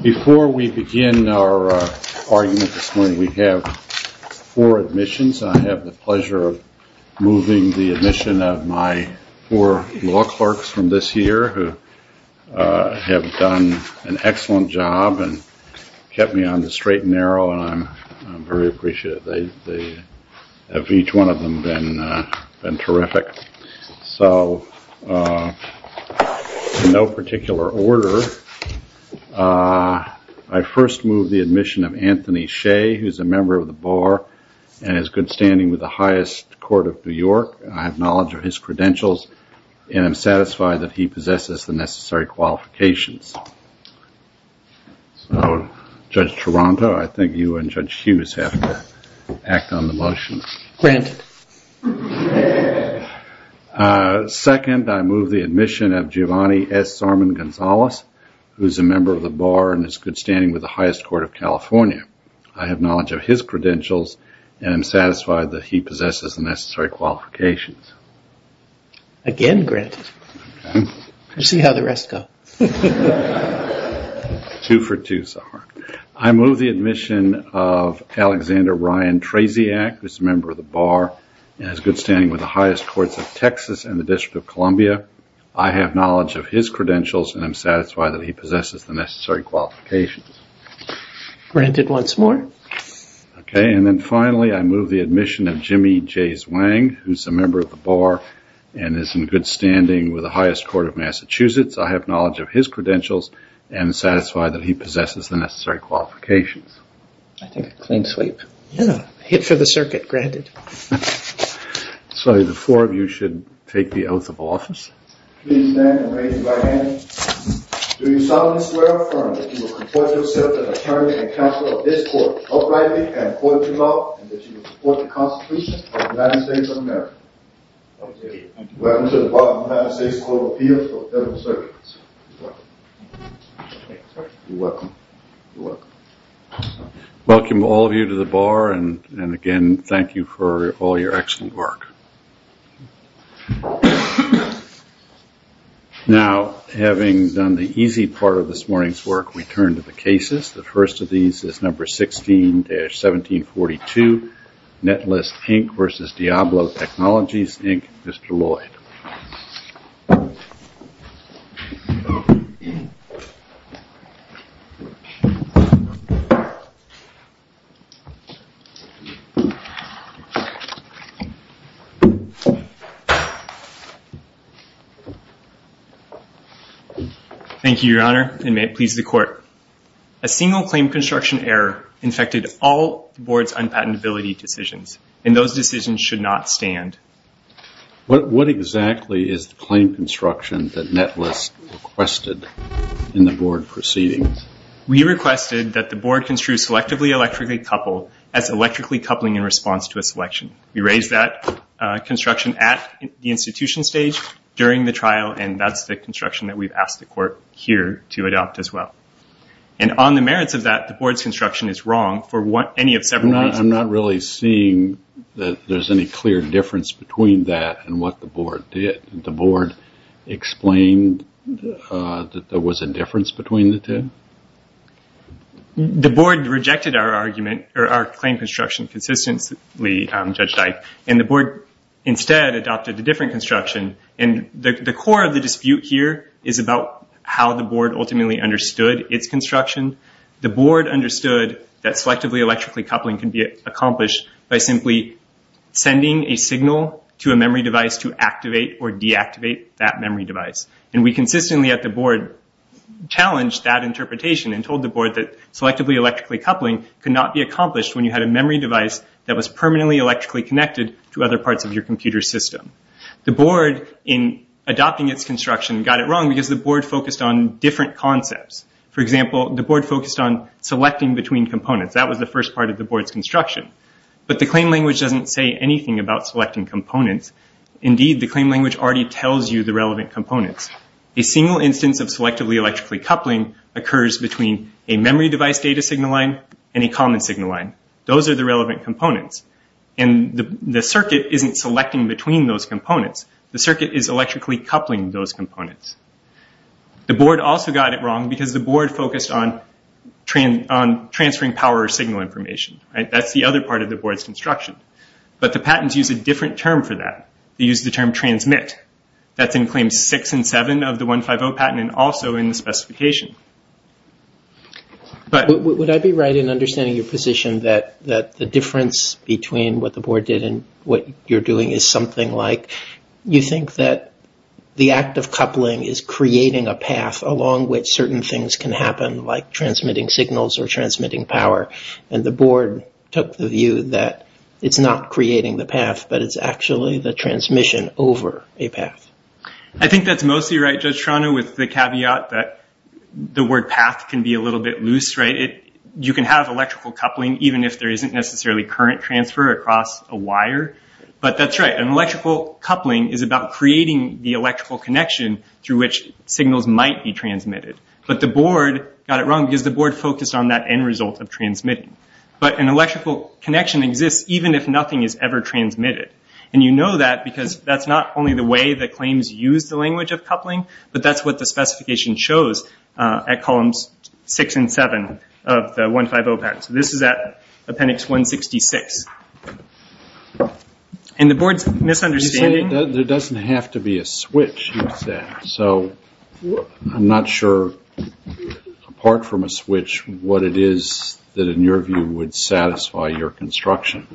Before we begin our argument this morning, we have four admissions. I have the pleasure of moving the admission of my four law clerks from this year who have done an excellent job and kept me on the straight and narrow and I'm very appreciative. They have, each one of them, been terrific. So, in no particular order, I first move the admission of Anthony Shea, who is a member of the bar and has good standing with the highest court of New York. I have knowledge of his credentials and I'm satisfied that he possesses the necessary qualifications. So, Judge Taranto, I think you and Judge Hughes have to act on the motion. Second, I move the admission of Giovanni S. Zorman-Gonzalez, who is a member of the bar and has good standing with the highest court of California. I have knowledge of his credentials and I'm satisfied that he possesses the necessary qualifications. Again, granted. We'll see how the rest go. Two for two, sir. I move the admission of Alexander Ryan Traziak, who is a member of the bar and has good standing with the highest courts of Texas and the District of Columbia. I have knowledge of his credentials and I'm satisfied that he possesses the necessary qualifications. Granted once more. Okay, and then finally, I move the admission of Jimmy J. Zwang, who is a member of the bar and is in good standing with the highest court of Massachusetts. I have knowledge of his credentials and I'm satisfied that he possesses the necessary qualifications. I think a clean sweep. Yeah, a hit for the circuit, granted. So, the four of you should take the oath of office. Please stand and raise your right hand. Do you solemnly swear or affirm that you will comport yourself as an attorney and counsel of this court, uprightly and according to law, and that you will support the Constitution of the United States of America? I do. I do. I do. I do. I do. I do. I do. I do. I do. I do. I do. I do. I do. I do. Mr. Williams. You're welcome. Welcome. Welcome. Welcome. Welcome all of you to the bar and again, thank you for all of your excellent work. Now, having done the easy part of this morning's work, we turn to the cases. The first of these is Number 16-1742. Net list Inc. versus Diablo Technologies, Inc., Mr. Lloyd. Thank you, Your Honor, and may it please the Court. A single claim construction error infected all the Board's unpatentability decisions and those decisions should not stand. What exactly is the claim construction that Net List requested in the Board proceeding? We requested that the Board construe selectively electrically coupled as electrically coupling in response to a selection. We raised that construction at the institution stage during the trial and that's the construction that we've asked the Court here to adopt as well. And on the merits of that, the Board's construction is wrong for any of several reasons. I'm not really seeing that there's any clear difference between that and what the Board did. Did the Board explain that there was a difference between the two? The Board rejected our argument or our claim construction consistently, Judge Dike, and the Board instead adopted a different construction. And the core of the dispute here is about how the Board ultimately understood its construction. The Board understood that selectively electrically coupling can be accomplished by simply sending a signal to a memory device to activate or deactivate that memory device. And we consistently at the Board challenged that interpretation and told the Board that selectively electrically coupling could not be accomplished when you had a memory device that was permanently electrically connected to other parts of your computer system. The Board, in adopting its construction, got it wrong because the Board focused on different concepts. For example, the Board focused on selecting between components. That was the first part of the Board's construction. But the claim language doesn't say anything about selecting components. Indeed, the claim language already tells you the relevant components. A single instance of selectively electrically coupling occurs between a memory device data signal line and a common signal line. Those are the relevant components. And the circuit isn't selecting between those components. The circuit is electrically coupling those components. The Board also got it wrong because the Board focused on transferring power or signal information. That's the other part of the Board's construction. But the patents use a different term for that. They use the term transmit. That's in Claims 6 and 7 of the 150 patent and also in the specification. Would I be right in understanding your position that the difference between what the Board did and what you're doing is something like... What you're doing is creating a path along which certain things can happen like transmitting signals or transmitting power. And the Board took the view that it's not creating the path, but it's actually the transmission over a path. I think that's mostly right, Judge Trano, with the caveat that the word path can be a little bit loose. You can have electrical coupling even if there isn't necessarily current transfer across a wire. But that's right. An electrical coupling is about creating the electrical connection through which signals might be transmitted. But the Board got it wrong because the Board focused on that end result of transmitting. But an electrical connection exists even if nothing is ever transmitted. You know that because that's not only the way that claims use the language of coupling, but that's what the specification shows at columns 6 and 7 of the 150 patent. This is at appendix 166. And the Board's misunderstanding... You say there doesn't have to be a switch, you said. So I'm not sure, apart from a switch, what it is that in your view would satisfy your construction.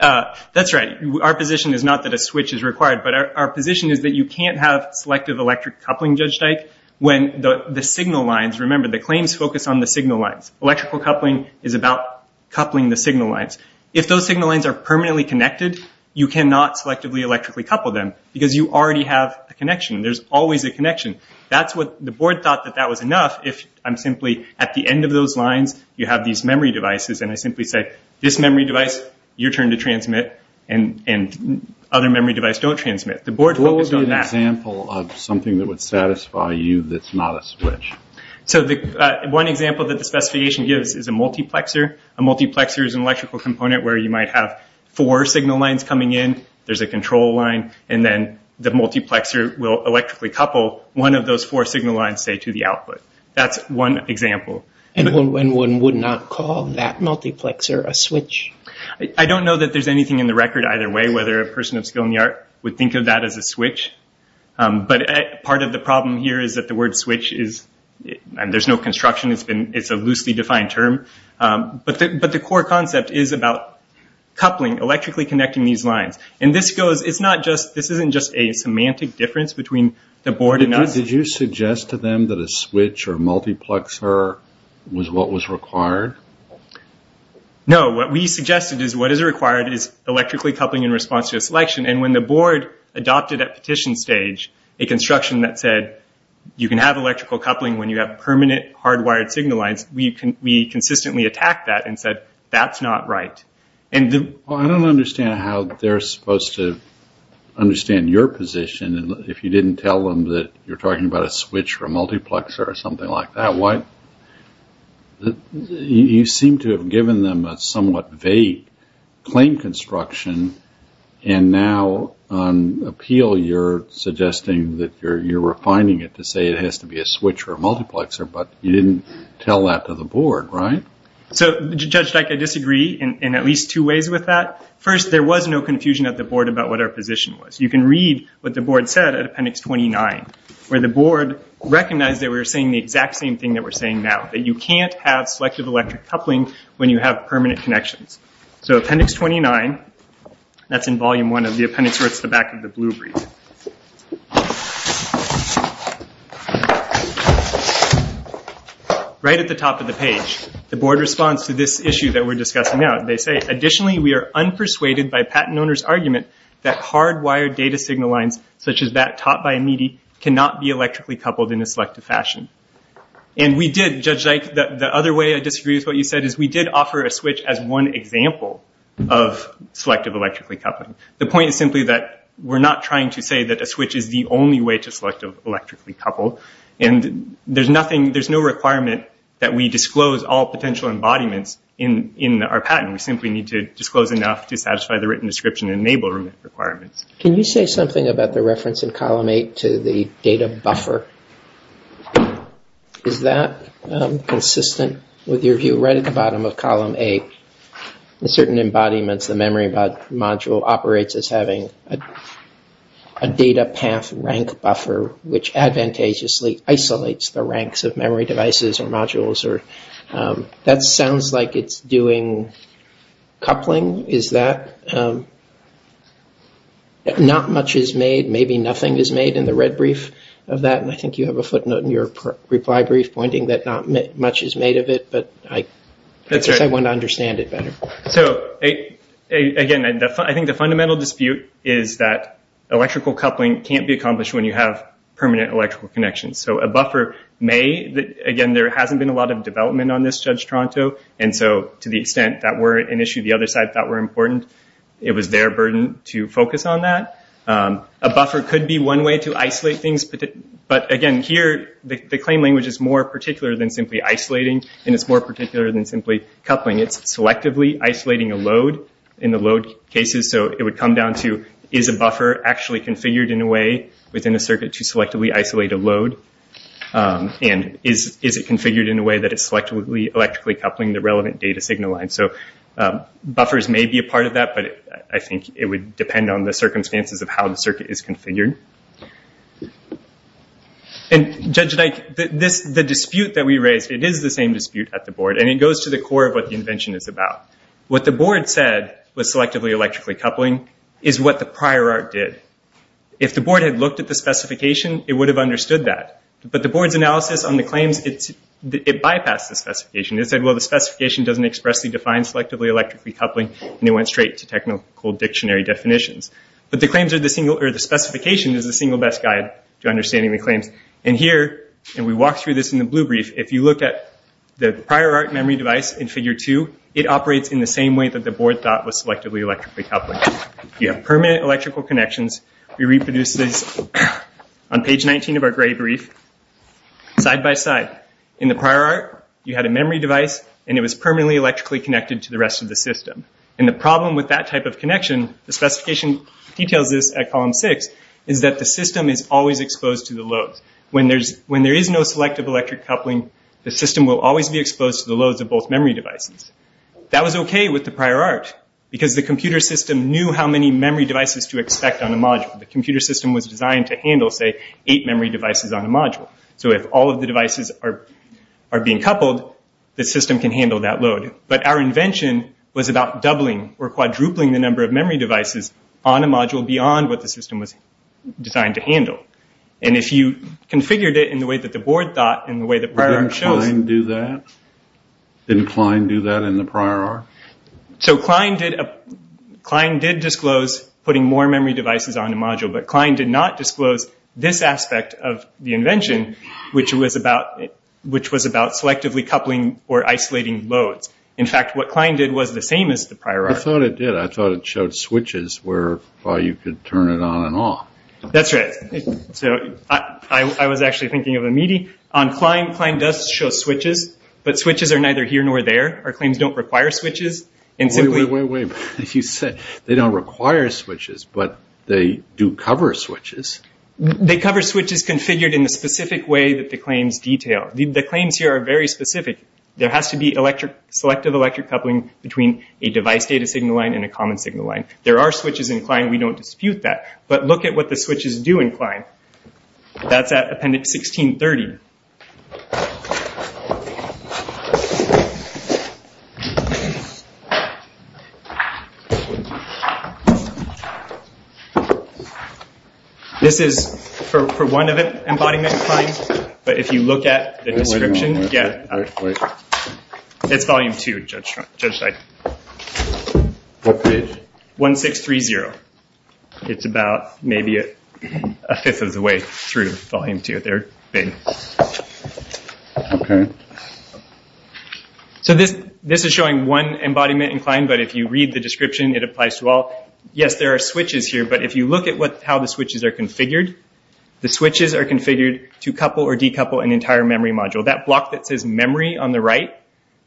That's right. Our position is not that a switch is required, but our position is that you can't have selective electric coupling, Judge Dyke, when the signal lines... Remember the claims focus on the signal lines. Electrical coupling is about coupling the signal lines. If those signal lines are permanently connected, you cannot selectively electrically couple them because you already have a connection. There's always a connection. That's what the Board thought that that was enough if I'm simply at the end of those lines, you have these memory devices, and I simply say, this memory device, your turn to transmit, and other memory devices don't transmit. The Board focused on that. What would be an example of something that would satisfy you that's not a switch? So one example that the specification gives is a multiplexer. A multiplexer is an electrical component where you might have four signal lines coming in, there's a control line, and then the multiplexer will electrically couple one of those four signal lines, say, to the output. That's one example. And one would not call that multiplexer a switch? I don't know that there's anything in the record either way, whether a person of skill in the art would think of that as a switch. But part of the problem here is that the word switch is, and there's no construction, it's a loosely defined term, but the core concept is about coupling, electrically connecting these lines. And this goes, it's not just, this isn't just a semantic difference between the Board and us. Did you suggest to them that a switch or multiplexer was what was required? No, what we suggested is what is required is electrically coupling in response to a selection. And when the Board adopted at petition stage a construction that said, you can have electrical coupling when you have permanent hardwired signal lines, we consistently attacked that and said, that's not right. Well, I don't understand how they're supposed to understand your position if you didn't tell them that you're talking about a switch or a multiplexer or something like that. You seem to have given them a somewhat vague claim construction, and now on appeal you're suggesting that you're refining it to say it has to be a switch or a multiplexer, but you didn't tell that to the Board, right? So, Judge Dyke, I disagree in at least two ways with that. First, there was no confusion at the Board about what our position was. You can read what the Board said at Appendix 29, where the Board recognized that we were saying the exact same thing that we're saying now, that you can't have selective electric coupling when you have permanent connections. So, Appendix 29, that's in Volume 1 of the Appendix where it's the back of the blue brief. Right at the top of the page, the Board responds to this issue that we're discussing now. They say, additionally, we are unpersuaded by patent owners' argument that hardwired data signal lines, such as that taught by Meadey, cannot be electrically coupled in a selective fashion. And we did, Judge Dyke, the other way I disagree with what you said is we did offer a switch as one example of selective electrically coupling. The point is simply that we're not trying to say that a switch is the only way to selective electrically couple. And there's no requirement that we disclose all potential embodiments in our patent. We simply need to disclose enough to satisfy the written description and enable requirements. Can you say something about the reference in Column 8 to the data buffer? Is that consistent with your view? Right at the bottom of Column 8, certain embodiments, the memory module, operates as having a data path rank buffer, which advantageously isolates the ranks of memory devices or modules. That sounds like it's doing coupling. Is that? Not much is made. Maybe nothing is made in the red brief of that. And I think you have a footnote in your reply brief pointing that not much is made of it. But I guess I want to understand it better. So, again, I think the fundamental dispute is that electrical coupling can't be accomplished when you have permanent electrical connections. So a buffer may. Again, there hasn't been a lot of development on this, Judge Tronto. And so to the extent that were an issue the other side thought were important, it was their burden to focus on that. A buffer could be one way to isolate things. But again, here, the claim language is more particular than simply isolating. And it's more particular than simply coupling. It's selectively isolating a load in the load cases. So it would come down to, is a buffer actually configured in a way within a circuit to selectively isolate a load? And is it configured in a way that it's selectively electrically coupling the relevant data signal line? So buffers may be a part of that, but I think it would depend on the circumstances of how the circuit is configured. And Judge Dyke, the dispute that we raised, it is the same dispute at the board. And it goes to the core of what the invention is about. What the board said was selectively electrically coupling is what the prior art did. If the board had looked at the specification, it would have understood that. But the board's analysis on the claims, it bypassed the specification. It said, well, the specification doesn't expressly define selectively electrically coupling. And it went straight to technical dictionary definitions. But the specification is the single best guide to understanding the claims. And here, and we walked through this in the blue brief, if you look at the prior art memory device in figure two, it operates in the same way that the board thought was selectively electrically coupling. You have permanent electrical connections. We reproduced this on page 19 of our gray brief. Side by side. In the prior art, you had a memory device, and it was permanently electrically connected to the rest of the system. And the problem with that type of connection, the specification details this at column six, is that the system is always exposed to the loads. When there is no selective electric coupling, the system will always be exposed to the loads of both memory devices. That was okay with the prior art. Because the computer system knew how many memory devices to expect on a module. The computer system was designed to handle, say, eight memory devices on a module. So if all of the devices are being coupled, the system can handle that load. But our invention was about doubling or quadrupling the number of memory devices on a module beyond what the system was designed to handle. And if you configured it in the way that the board thought, in the way that prior art shows... Didn't Klein do that in the prior art? So Klein did disclose putting more memory devices on a module. But Klein did not disclose this aspect of the invention, which was about selectively coupling or isolating loads. In fact, what Klein did was the same as the prior art. I thought it did. I thought it showed switches where you could turn it on and off. That's right. I was actually thinking of a meaty... Klein does show switches, but switches are neither here nor there. Our claims don't require switches. Wait, wait, wait. You said they don't require switches, but they do cover switches. They cover switches configured in the specific way that the claims detail. The claims here are very specific. There has to be selective electric coupling between a device data signal line and a common signal line. There are switches in Klein. We don't dispute that. But look at what the switches do in Klein. That's at Appendix 1630. This is for one embodiment of Klein. But if you look at the description... It's Volume 2, Judge Stein. What page? 1630. It's about a fifth of the way through Volume 2. This is showing one embodiment in Klein, but if you read the description, it applies to all. Yes, there are switches here, but if you look at how the switches are configured, the switches are configured to couple or decouple an entire memory module. That block that says memory on the right,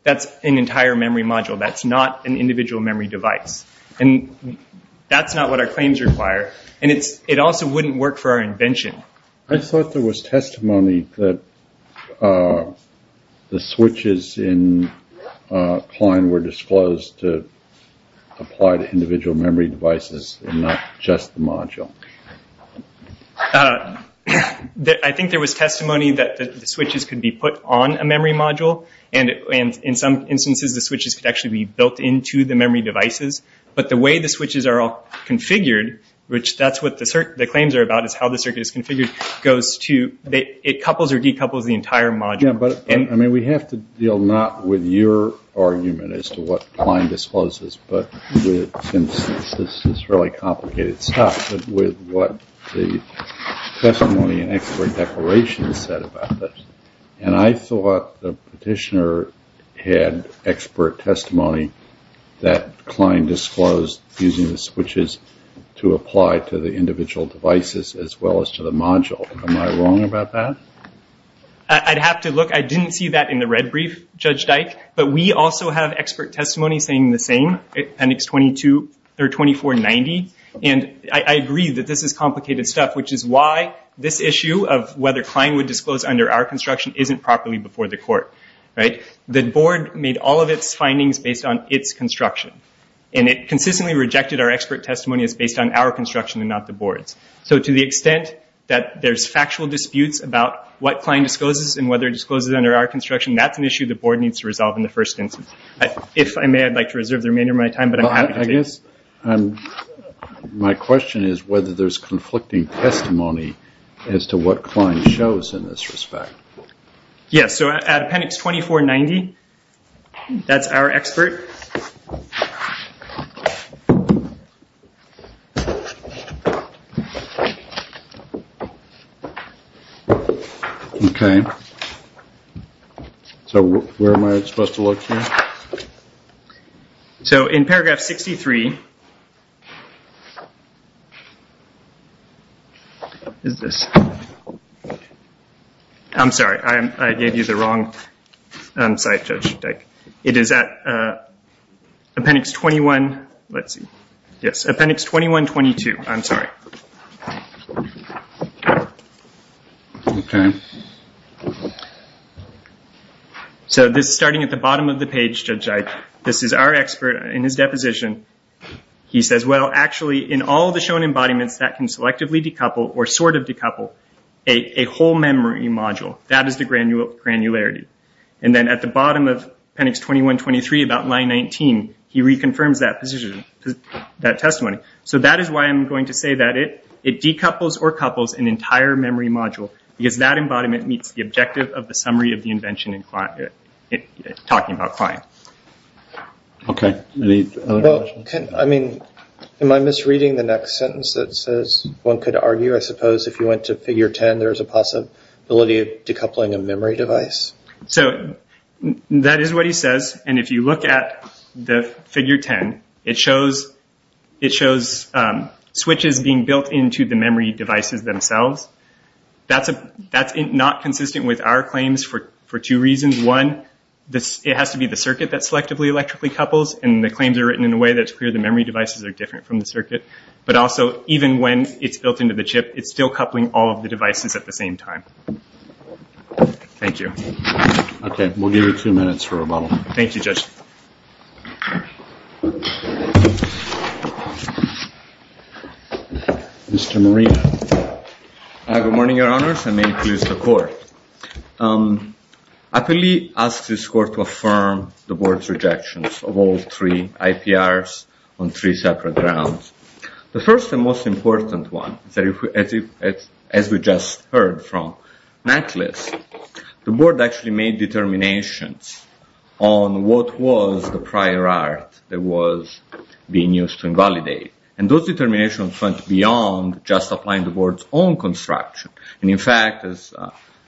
that's an entire memory module. That's not an individual memory device. That's not what our claims require. It also wouldn't work for our invention. I thought there was testimony that the switches in Klein were disclosed to apply to individual memory devices, and not just the module. I think there was testimony that the switches could be put on a memory module. In some instances, the switches could actually be built into the memory devices. But the way the switches are all configured, which that's what the claims are about, is how the circuit is configured, it couples or decouples the entire module. We have to deal not with your argument as to what Klein discloses, but with, since this is really complicated stuff, with what the testimony and expert declaration said about this. And I thought the petitioner had expert testimony that Klein disclosed using the switches to apply to the individual devices as well as to the module. Am I wrong about that? I'd have to look. I didn't see that in the red brief, Judge Dyke. But we also have expert testimony saying the same, appendix 2490. And I agree that this is complicated stuff, which is why this issue of whether Klein would disclose under our construction isn't properly before the court. The board made all of its findings based on its construction. And it consistently rejected our expert testimony as based on our construction and not the board's. So to the extent that there's factual disputes about what Klein discloses and whether it discloses under our construction, that's an issue the board needs to resolve in the first instance. If I may, I'd like to reserve the remainder of my time, but I'm happy to take it. My question is whether there's conflicting testimony as to what Klein shows in this respect. Yes, so appendix 2490, that's our expert. So where am I supposed to look here? So in paragraph 63... I'm sorry, I gave you the wrong site, Judge Dyke. It is at appendix 21... let's see. Yes, appendix 2122, I'm sorry. Okay. So this is starting at the bottom of the page, Judge Dyke. This is our expert in his deposition. He says, well, actually, in all the shown embodiments that can selectively decouple or sort of decouple a whole memory module, that is the granularity. And then at the bottom of appendix 2123, about line 19, he reconfirms that testimony. So that is why I'm going to say that it decouples or couples an entire memory module, because that embodiment meets the objective of the summary of the invention talking about Klein. Okay. Am I misreading the next sentence that says one could argue, I suppose, if you went to figure 10, there's a possibility of decoupling a memory device? So that is what he says, and if you look at the figure 10, it shows switches being built into the memory devices themselves. That's not consistent with our claims for two reasons. One, it has to be the circuit that selectively electrically couples, and the claims are written in a way that's clear the memory devices are different from the circuit. But also, even when it's built into the chip, it's still coupling all of the devices at the same time. Thank you. Okay, we'll give you two minutes for rebuttal. Thank you, Judge. Mr. Moreno. Good morning, Your Honors, and many pleas to the Court. I fully ask this Court to affirm the Board's rejections of all three IPRs on three separate grounds. The first and most important one, as we just heard from Nicholas, the Board actually made determinations on what was the prior art that was being used to invalidate. And those determinations went beyond just applying the Board's own construction. And in fact, as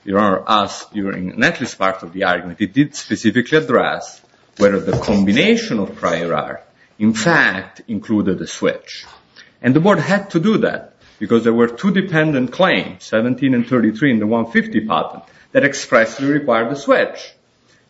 Your Honor asked during the next part of the argument, it did specifically address whether the combination of prior art, in fact, included a switch. And the Board had to do that, because there were two dependent claims, 17 and 33 in the 150 pattern, that expressly required a switch.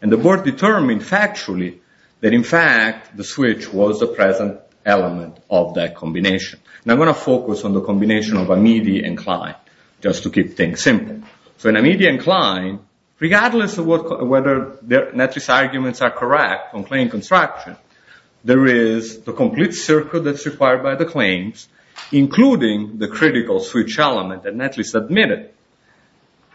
And the Board determined factually that, in fact, the switch was the present element of that combination. And I'm going to focus on the combination of Amede and Klein, just to keep things simple. So in Amede and Klein, regardless of whether their net risk arguments are correct on claim construction, there is the complete circle that's required by the claims, including the critical switch element, that net risk admitted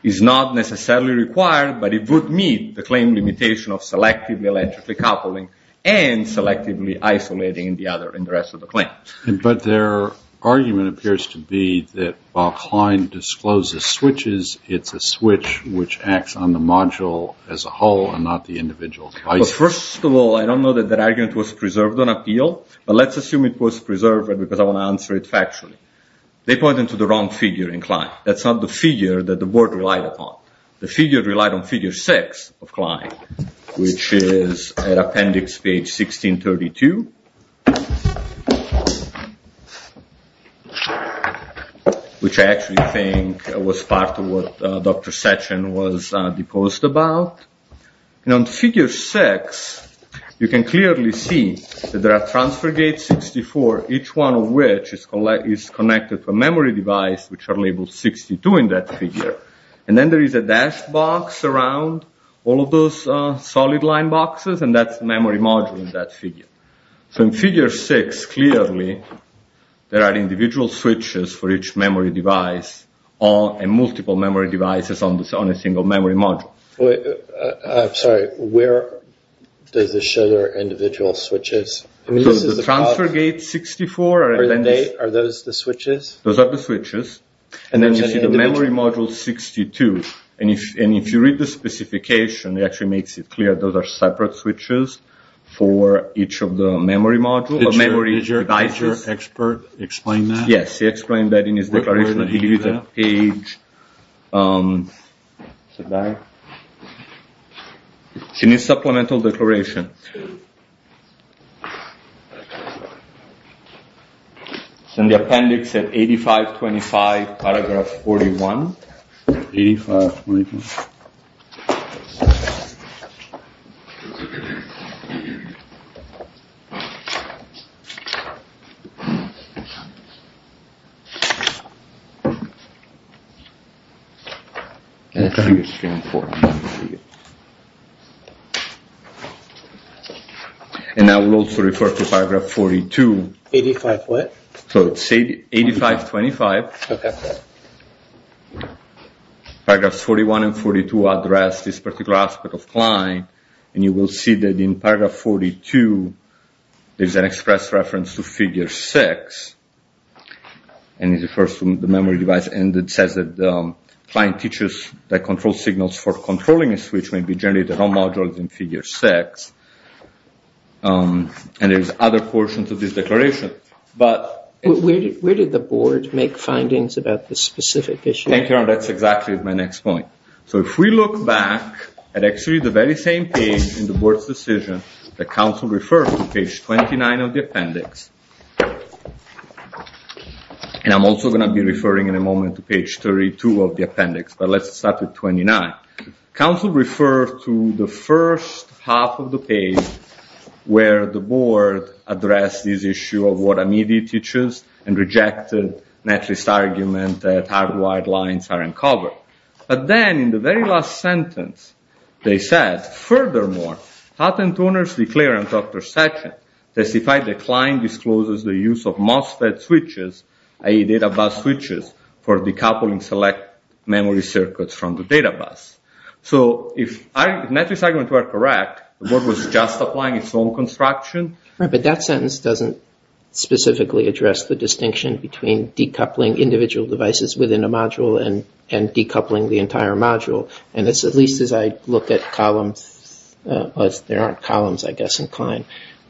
is not necessarily required, but it would meet the claim limitation of selectively electrically coupling and selectively isolating the other in the rest of the claim. But their argument appears to be that while Klein discloses switches, it's a switch which acts on the module as a whole and not the individual device. First of all, I don't know that that argument was answered factually. They pointed to the wrong figure in Klein. That's not the figure that the Board relied upon. The figure relied on figure six of Klein, which is at appendix page 1632. Which I actually think was part of what Dr. Session was deposed about. And on figure six, you can clearly see that there are transfer gates, 64, each one of which is connected to a memory device which are labeled 62 in that figure. And then there is a dash box around all of those solid line boxes and that's the memory module in that figure. In figure six, clearly, there are individual switches for each memory device and multiple memory devices on a single memory module. I'm sorry, where does this show there are individual switches? The transfer gate 64 are those the switches? And then you see the memory module 62. And if you read the specification, it actually makes it clear that those are separate switches for each of the memory devices. Did your expert explain that? Yes, he explained that in his declaration. He gave you that page. It's in his supplemental declaration. It's in the appendix at 8525, paragraph 41. And it's figure three and four. And I will also refer to paragraph 42. 85 what? So it's 8525. Paragraphs 41 and 42 address this particular aspect of Klein and you will see that in paragraph 42 there's an express reference to figure six and it refers to the memory device and it says that Klein teaches that control signals for controlling a switch may be generated on modules in figure six. And there's other portions of this declaration. Where did the board make findings about this specific issue? That's exactly my next point. So if we look back at actually the very same page in the board's decision, the council refers to page 29 of the appendix. And I'm also going to be referring in a moment to page 32 of the appendix, but let's start with 29. Council refers to the first half of the page where the board addresses this issue of what a media teaches and rejected netlist argument that hardwired lines are uncovered. But then in the very last sentence they said, furthermore, Houghton Tuners declared on Dr. Sessions that if I declined discloses the use of MOSFET switches i.e. data bus switches for decoupling select memory circuits from the data bus. So if netlist arguments were correct the board was just applying its own construction. Right, but that sentence doesn't specifically address the distinction between decoupling individual devices within a module and decoupling the entire module. At least as I look at columns, there aren't columns I guess in Klein,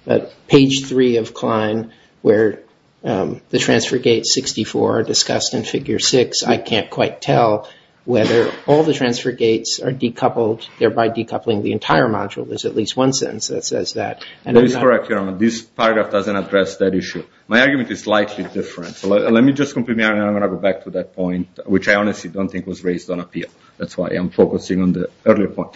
but page 3 of Klein where the transfer gates 64 are discussed in figure 6 I can't quite tell whether all the transfer gates are decoupled, thereby decoupling the entire module. There's at least one sentence that says that. That is correct. This paragraph doesn't address that issue. My argument is slightly different. Let me just go back to that point which I honestly don't think was raised on appeal. That's why I'm focusing on the earlier point.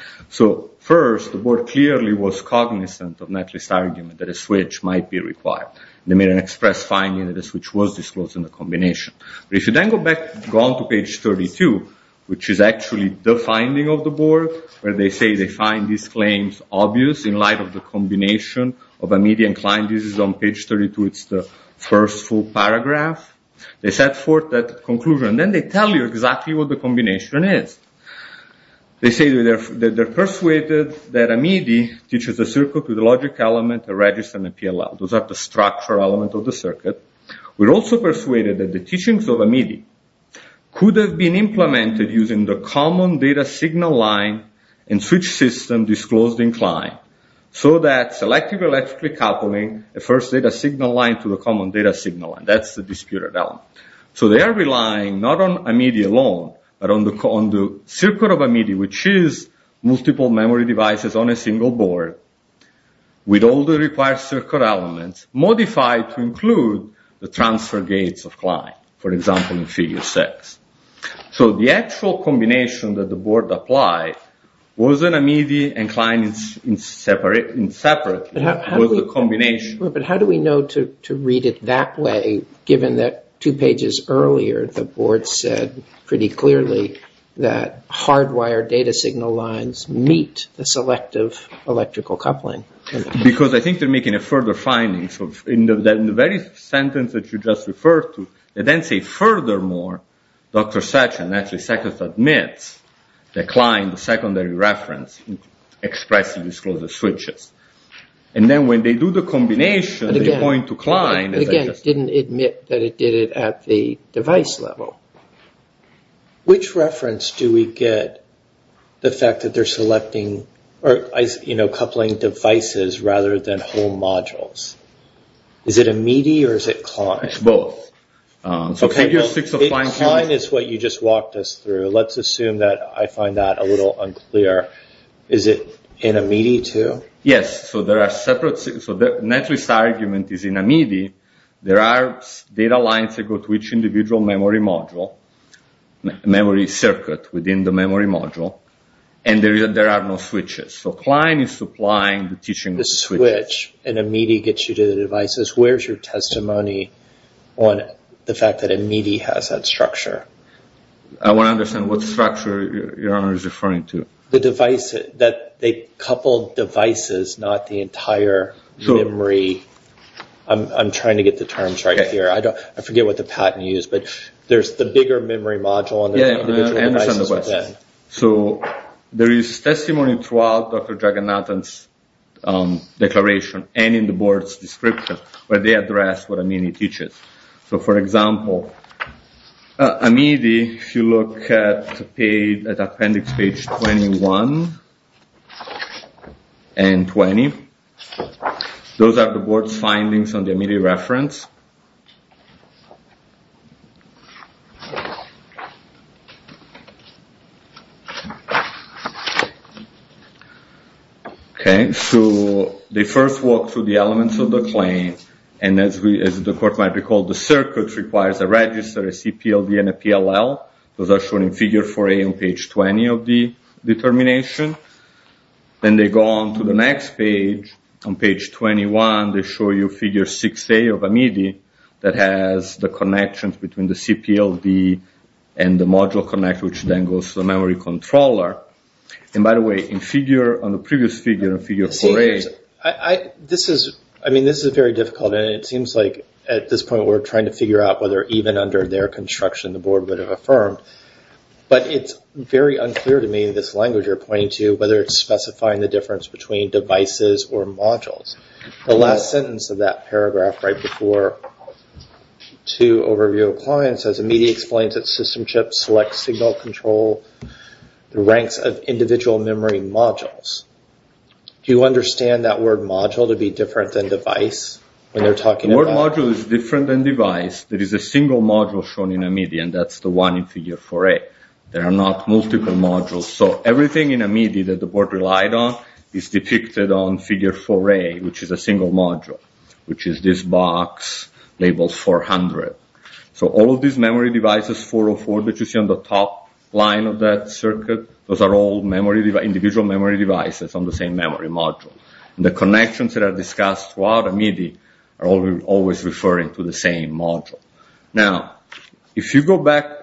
First, the board clearly was cognizant of netlist argument that a switch might be required. They made an express finding that a switch was disclosed in the combination. If you then go on to page 32, which is actually the finding of the board where they say they find these claims obvious in light of the combination of Amidi and Klein. This is on page 32. It's the first full paragraph. They set forth that conclusion. Then they tell you exactly what the combination is. They say they're persuaded that Amidi teaches a circuit with a logic element, a register, and a PLL. Those are the structural elements of the circuit. We're also persuaded that the teachings of Amidi could have been implemented using the common data signal line and switch system disclosed in Klein so that selective electrically coupling the first data signal line to the common data signal line. That's the disputed element. They are relying not on Amidi alone but on the circuit of Amidi which is multiple memory devices on a single board with all the required circuit elements modified to include the transfer gates of Klein. For example, in figure six. The actual combination that the board applied wasn't Amidi and Klein separately. It was a combination. How do we know to read it that way given that two pages earlier the board said pretty clearly that hardwired data signal lines meet the selective electrical coupling? I think they're making a further finding that in the very sentence that you just referred to they then say furthermore, Dr. Sessions admits that Klein, the secondary reference, expressed the disclosed switches. Then when they do the combination they point to Klein. Again, it didn't admit that it did it at the device level. Which reference do we get the fact that they're coupling devices rather than whole modules? Is it Amidi or is it Klein? Klein is what you just walked us through. Let's assume that I find that a little unclear. Is it in Amidi too? Yes. The naturalist argument is in Amidi there are data lines that go to each individual memory module memory circuit within the memory module and there are no switches. Klein is supplying the teaching of switches. The switch in Amidi gets you to the devices. Where's your testimony on the fact that Amidi has that structure? I want to understand what structure you're referring to. The device that they coupled devices not the entire memory. I'm trying to get the terms right here. I forget what the patent used. There's the bigger memory module. There is testimony throughout Dr. Draganathan's declaration and in the board's description where they address what Amidi teaches. For example, Amidi if you look at appendix page 21 and 20 those are the board's findings on the Amidi reference. They first walk through the elements of the claim and as the court might recall the circuit requires a register a CPLD and a PLL those are shown in figure 4A on page 20 of the determination. Then they go on to the next page on page 21 they show you figure 6A of Amidi that has the connections between the CPLD and the module connector which then goes to the memory controller. By the way, on the previous figure This is very difficult and it seems like at this point we're trying to figure out whether even under their construction the board would have affirmed but it's very unclear to me this language you're pointing to whether it's specifying the difference between devices or modules. The last sentence of that paragraph right before to overview of clients says Amidi explains that system chips select signal control the ranks of individual memory modules Do you understand that word module to be different than device? The word module is different than device. There is a single module shown in Amidi and that's the one in figure 4A. There are not multiple modules. Everything in Amidi that the board relied on is depicted on figure 4A which is a single module which is this box labeled 400. All of these memory devices 404 that you see on the top line of that circuit those are all individual memory devices on the same memory module. The connections that are discussed throughout Amidi are always referring to the same module. Now, if we go back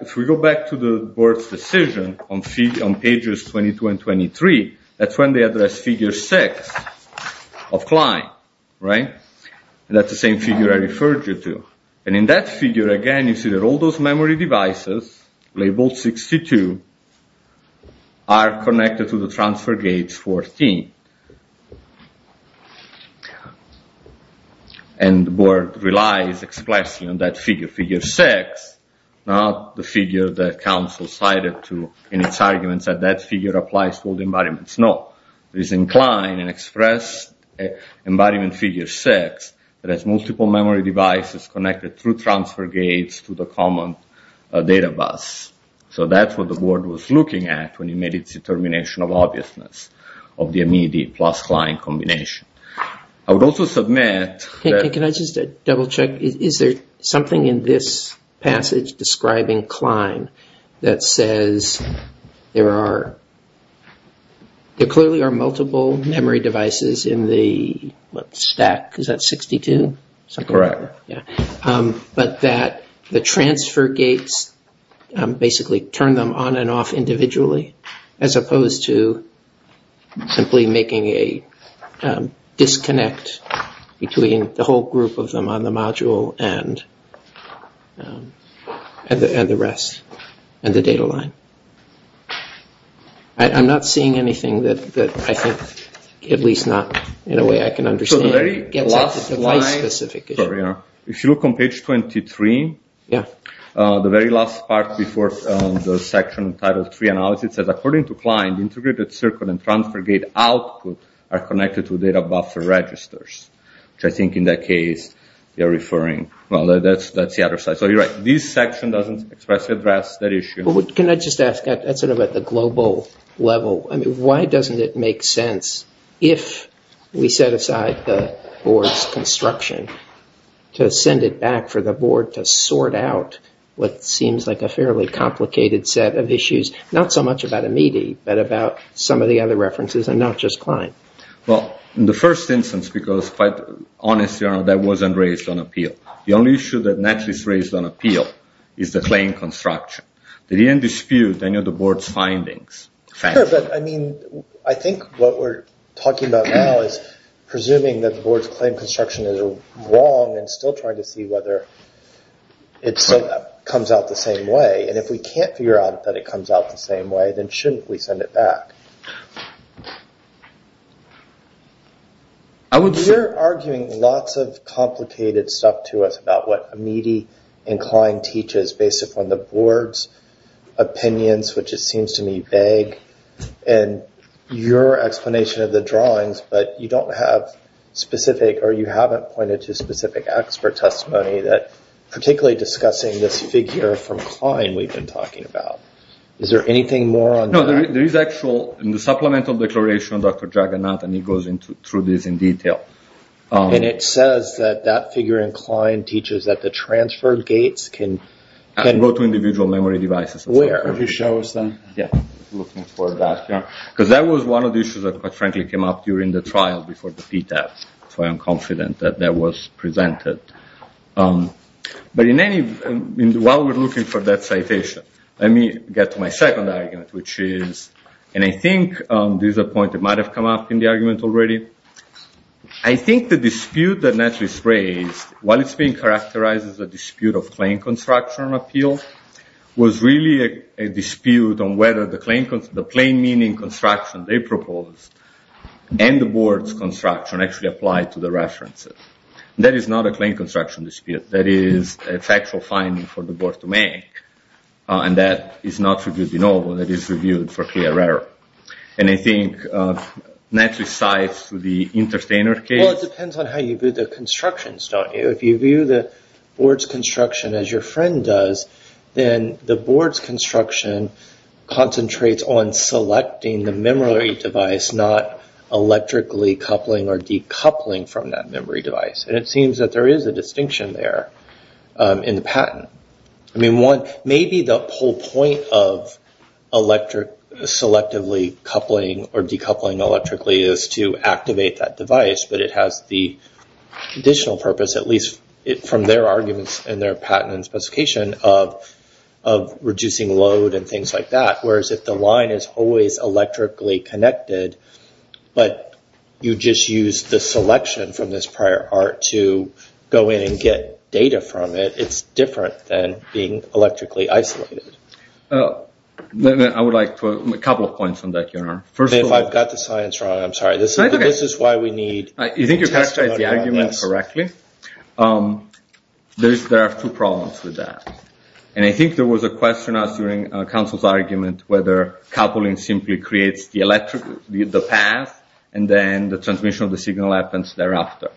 to the board's decision on pages 22 and 23 that's when they address figure 6 of client. That's the same figure I referred you to. In that figure again you see all those memory devices labeled 62 are connected to the transfer gates 14. The board relies expressly on that figure. Figure 6 not the figure that council cited in its arguments that that figure applies to all the environments. No. It is inclined and expressed environment figure 6 that has multiple memory devices connected through transfer gates to the common data bus. That's what the board was looking at when it made its determination of obviousness of the Amidi plus Klein combination. I would also submit... Can I just double check? Is there something in this passage describing Klein that says there are there clearly are multiple memory devices in the stack. Is that 62? Correct. The transfer gates basically turn them on and off simply making a disconnect between the whole group of them on the module and the rest and the data line. I'm not seeing anything that at least not in a way I can understand gets at the device specific issue. If you look on page 23 the very last part before the section titled it says according to Klein the integrated circuit and transfer gate output are connected to data buffer registers. I think in that case you're referring that's the other side. Can I just ask at the global level why doesn't it make sense if we set aside the board's construction to send it back for the board to sort out what seems like a fairly complicated set of issues not so much about Amidi but about some of the other references and not just Klein? In the first instance because quite honestly that wasn't raised on appeal. The only issue that was raised on appeal is the claim construction. They didn't dispute any of the board's findings. I think what we're talking about now is presuming that the board's claim construction is wrong and still trying to see whether it comes out the same way. If we can't figure out that it comes out the same way then shouldn't we send it back? You're arguing lots of complicated stuff to us about what Amidi and Klein teaches based upon the board's opinions which it seems to me vague and your explanation of the drawings but you haven't pointed to specific expert testimony particularly discussing this figure from Klein we've been talking about. Is there anything more on that? In the supplemental declaration Dr. Jagannath goes through this in detail. It says that figure in Klein teaches that the transferred gates can go to individual memory devices. Where? Could you show us that? That was one of the issues that frankly came up during the trial before the PTAS. I'm confident that was presented. While we're looking for that citation let me get to my second argument and I think this is a point that might have come up in the argument already. I think the dispute that Netflix raised while it's being characterized as a dispute of Klein construction appeal was really a dispute on whether the plain meaning construction they proposed and the board's construction actually applied to the references. That is not a Klein construction dispute. That is a factual finding for the board to make and that is not reviewed in all. And I think Netflix sides Well it depends on how you view the construction. If you view the board's construction as your friend does then the board's construction concentrates on selecting the memory device not electrically coupling or decoupling from that memory device. And it seems that there is a distinction there in the patent. Maybe the whole point of selectively coupling or decoupling electrically is to activate that device but it has the additional purpose at least from their arguments and their patent and specification of reducing load and things like that. Whereas if the line is always electrically connected but you just use the selection from this prior art to go in and get data from it, it's different than being electrically isolated. I would like a couple of points on that. If I've got the science wrong, I'm sorry. I think you've characterized the argument correctly. There are two problems with that. And I think there was a question asked during counsel's argument whether coupling simply creates the path and then the transmission of the signal happens thereafter.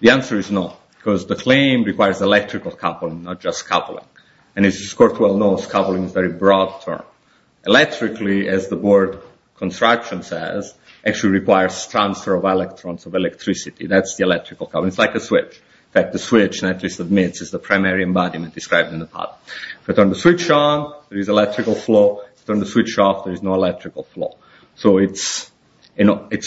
The answer is no because the claim requires electrical coupling not just coupling. Electrically, as the board construction says actually requires transfer of electrons of electricity. That's the electrical coupling. It's like a switch. If I turn the switch on, there is electrical flow. If I turn the switch off, there is no electrical flow. So it's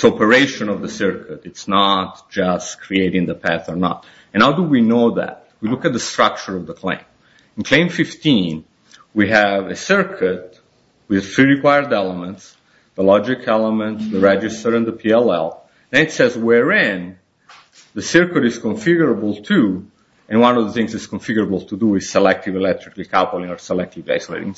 operation of the circuit. It's not just creating the path or not. How do we know that? We look at the structure of the claim. In claim 15, we have a circuit with three required elements. The logic element, the register, and the PLL. It says wherein the circuit is configurable to and one of the things it's configurable to do is selective electrical coupling or selective isolating.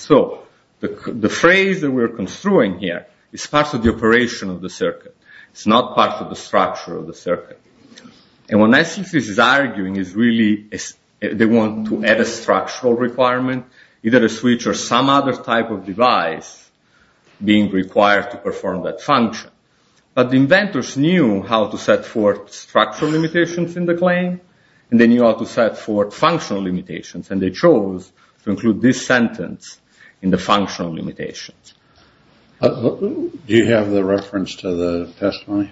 The phrase that we're construing here is part of the operation of the circuit. It's not part of the structure of the circuit. And what Nestle is arguing is really they want to add a structural requirement either a switch or some other type of device being required to perform that function. But the inventors knew how to set forth structural limitations in the claim and they knew how to set forth functional limitations and they chose to include this sentence in the functional limitations. Do you have the reference to the testimony?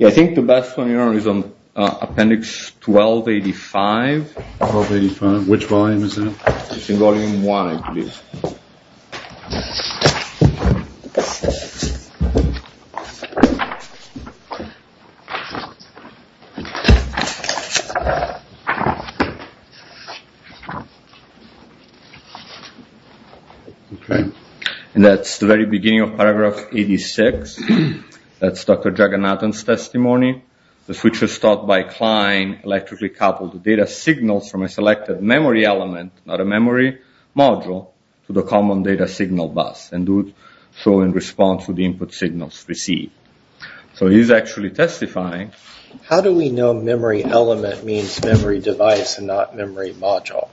I think the best one here is on appendix 1285. Which volume is that? It's in volume one I believe. Okay. And that's the very beginning of paragraph 86. That's Dr. Jagannathan's testimony. The switch was stopped by Klein electrically coupled data signals from a selected memory element not a memory module to the common data signal bus and do so in response to the input signals received. So he's actually testifying. How do we know memory element means memory device and not memory module?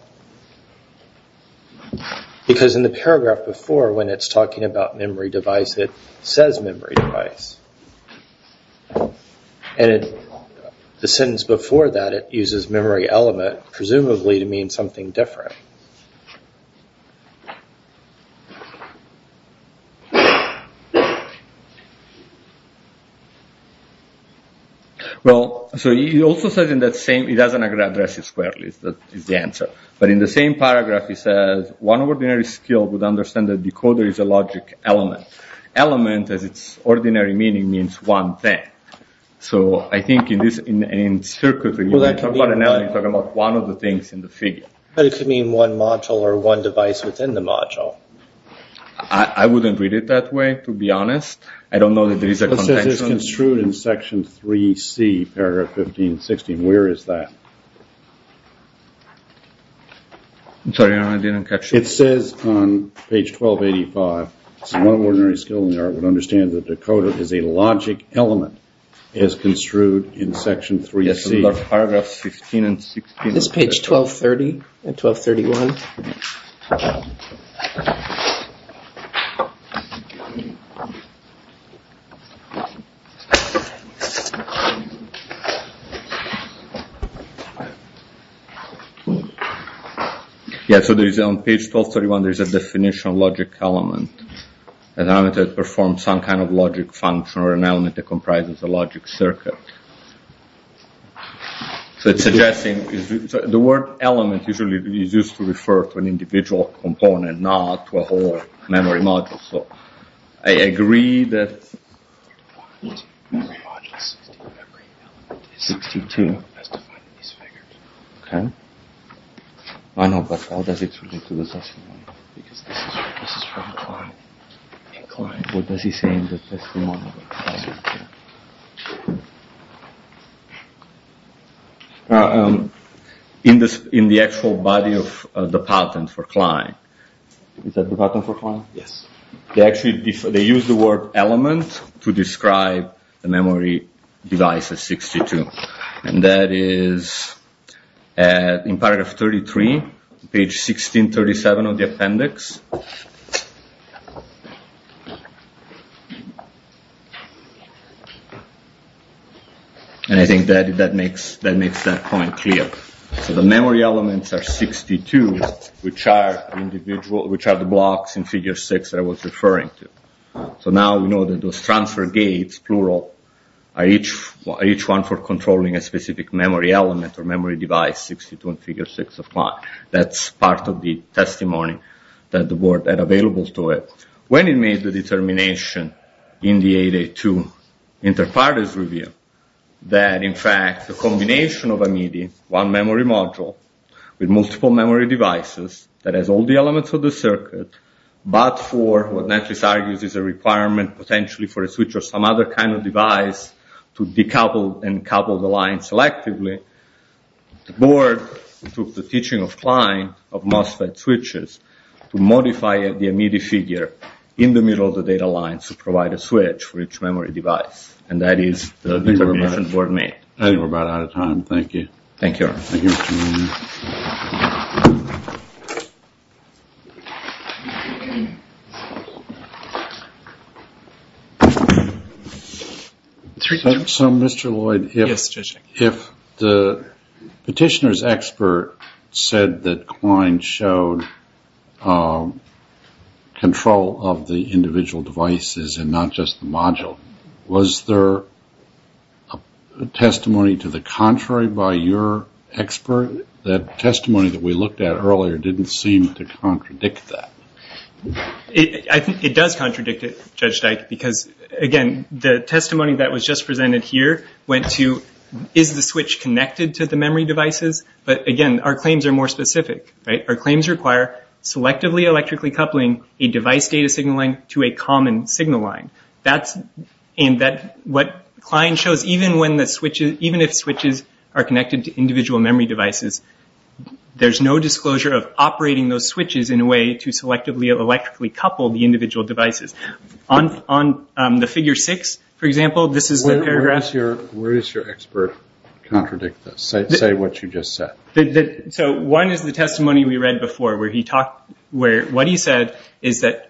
Because in the paragraph before when it's talking about memory device it says memory device. And in the sentence before that it uses memory element presumably to mean something different. So he also says in that same he doesn't address it squarely is the answer. But in the same paragraph he says one ordinary skill would understand that decoder is a logic element. Element as its ordinary meaning means one thing. So I think in this you're talking about one of the things in the figure. But it could mean one module or one device within the module. I wouldn't read it that way to be honest. It says it's construed in section 3C paragraph 15 and 16. Where is that? It says on page 1285 one ordinary skill in the art would understand that decoder is a logic element as construed in section 3C. This is page 1230 and 1231. Yeah, so there is on page 1231 there is a definition of logic element. An element that performs some kind of logic function or an element that comprises a logic circuit. So it's suggesting the word element usually is used to refer to an individual component not to a whole memory module. I agree that 62 I know but how does it relate to the testimony? This is from Klein. What does he say in the testimony? In the actual body of the patent for Klein Is that the patent for Klein? They use the word element to describe the memory device as 62 and that is in paragraph 33, page 1637 of the appendix and I think that makes that point clear. So the memory elements are 62 which are the blocks in figure 6 that I was referring to. So now we know that those transfer gates are each one for controlling a specific memory element or memory device 62 in figure 6 of Klein. That's part of the testimony that the board had available to it. When it made the determination in the 882 that in fact the combination of a medium one memory module with multiple memory devices that has all the elements of the circuit but for what Netlis argues is a requirement potentially for a switch or some other kind of device to decouple and couple the lines selectively the board took the teaching of Klein of MOSFET switches to modify the immediate figure in the middle of the data lines to provide a switch for each memory device and that is the determination the board made. I think we're about out of time. Thank you. So Mr. Lloyd if the petitioner's expert said that Klein showed control of the individual devices and not just the module was there testimony to the contrary by your expert that testimony that we looked at earlier didn't seem to contradict that? I think it does contradict it Judge Dyke because again the testimony that was just presented here went to is the switch connected to the memory devices but again our claims are more specific. Our claims require selectively electrically coupling a device data signal line to a common signal line and what Klein shows even if switches are connected to individual memory devices there's no disclosure of operating those switches in a way to selectively electrically couple the individual devices. On the figure 6 for example Where does your expert contradict this? Say what you just said. So one is the testimony we read before where what he said is that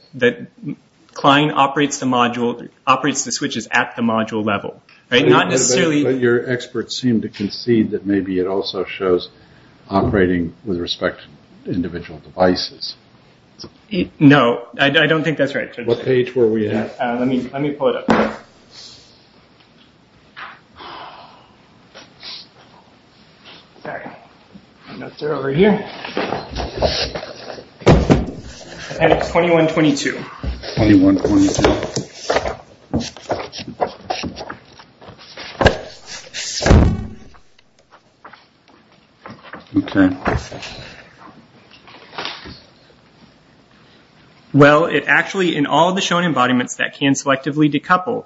Klein operates the switches at the module level. But your expert seemed to concede that maybe it also shows operating with respect to individual devices. No, I don't think that's right. Let me pull it up. Over here. And it's 2122. Well it actually in all the shown embodiments that can selectively decouple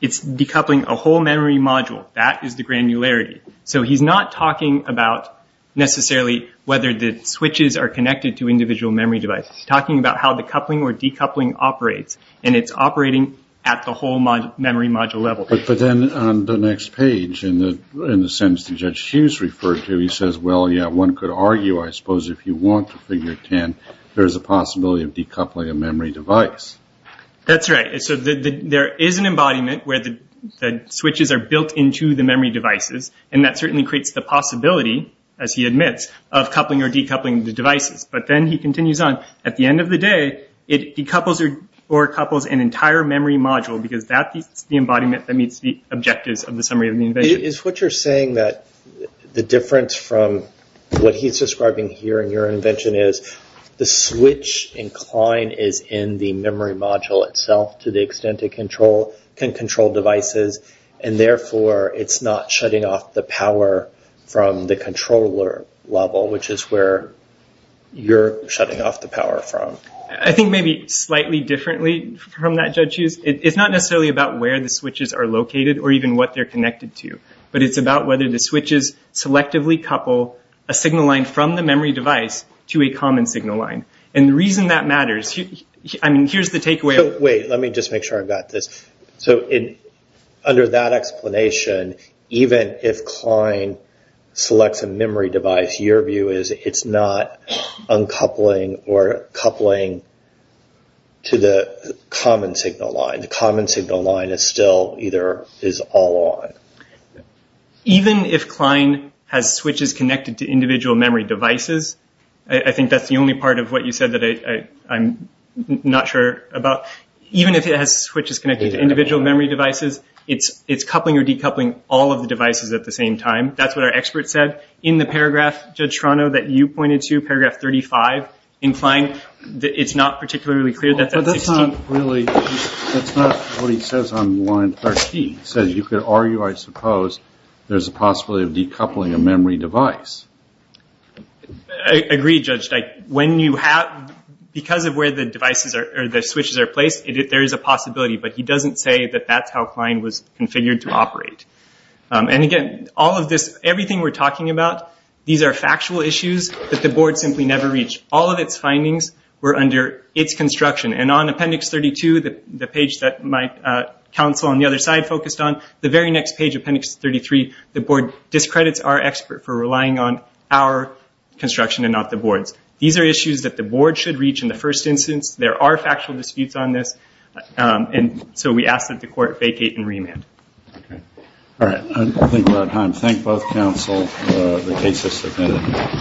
it's decoupling a whole memory module. That is the granularity. So he's not talking about necessarily whether the switches are connected to individual memory devices. He's talking about how the coupling or decoupling operates. And it's operating at the whole memory module level. But then on the next page in the sentence that Judge Hughes referred to he says well yeah one could argue I suppose if you want to figure 10 there's a possibility of decoupling a memory device. That's right. So there is an embodiment where the switches are built into the memory devices and that certainly creates the possibility as he admits of coupling or decoupling the devices. But then he continues on at the end of the day it decouples or couples an entire memory module because that's the embodiment that meets the objectives of the summary of the invention. Is what you're saying that the difference from what he's describing here in your invention is the switch incline is in the memory module itself to the extent it can control devices and therefore it's not shutting off the power from the controller level which is where you're shutting off the power from? I think maybe slightly differently from that Judge Hughes it's not necessarily about where the switches are located or even what they're connected to but it's about whether the switches selectively couple a signal line from the memory device to a common signal line. And the reason that matters Wait let me just make sure I've got this. So under that explanation even if Klein selects a memory device your view is it's not uncoupling or coupling to the common signal line. The common signal line is still either is all on. Even if Klein has switches connected to individual memory devices, I think that's the only part of what you said that I'm not sure about even if it has switches connected to individual memory devices it's coupling or decoupling all of the devices at the same time. That's what our expert said in the paragraph that you pointed to, paragraph 35 it's not particularly clear That's not what he says on line 13 he says you could argue I suppose there's a possibility of decoupling a memory device I agree Judge because of where the switches are placed there is a possibility but he doesn't say that's how Klein was Everything we're talking about, these are factual issues that the board simply never reached. All of its findings were under its construction and on appendix 32 the page that my counsel on the other side focused on the very next page, appendix 33, the board discredits our expert for relying on our construction and not the board's. These are issues that the board should reach in the first instance. There are factual disputes on this and so we ask that the court vacate and remand. I think we're out of time. Thank both counsel. The case is submitted.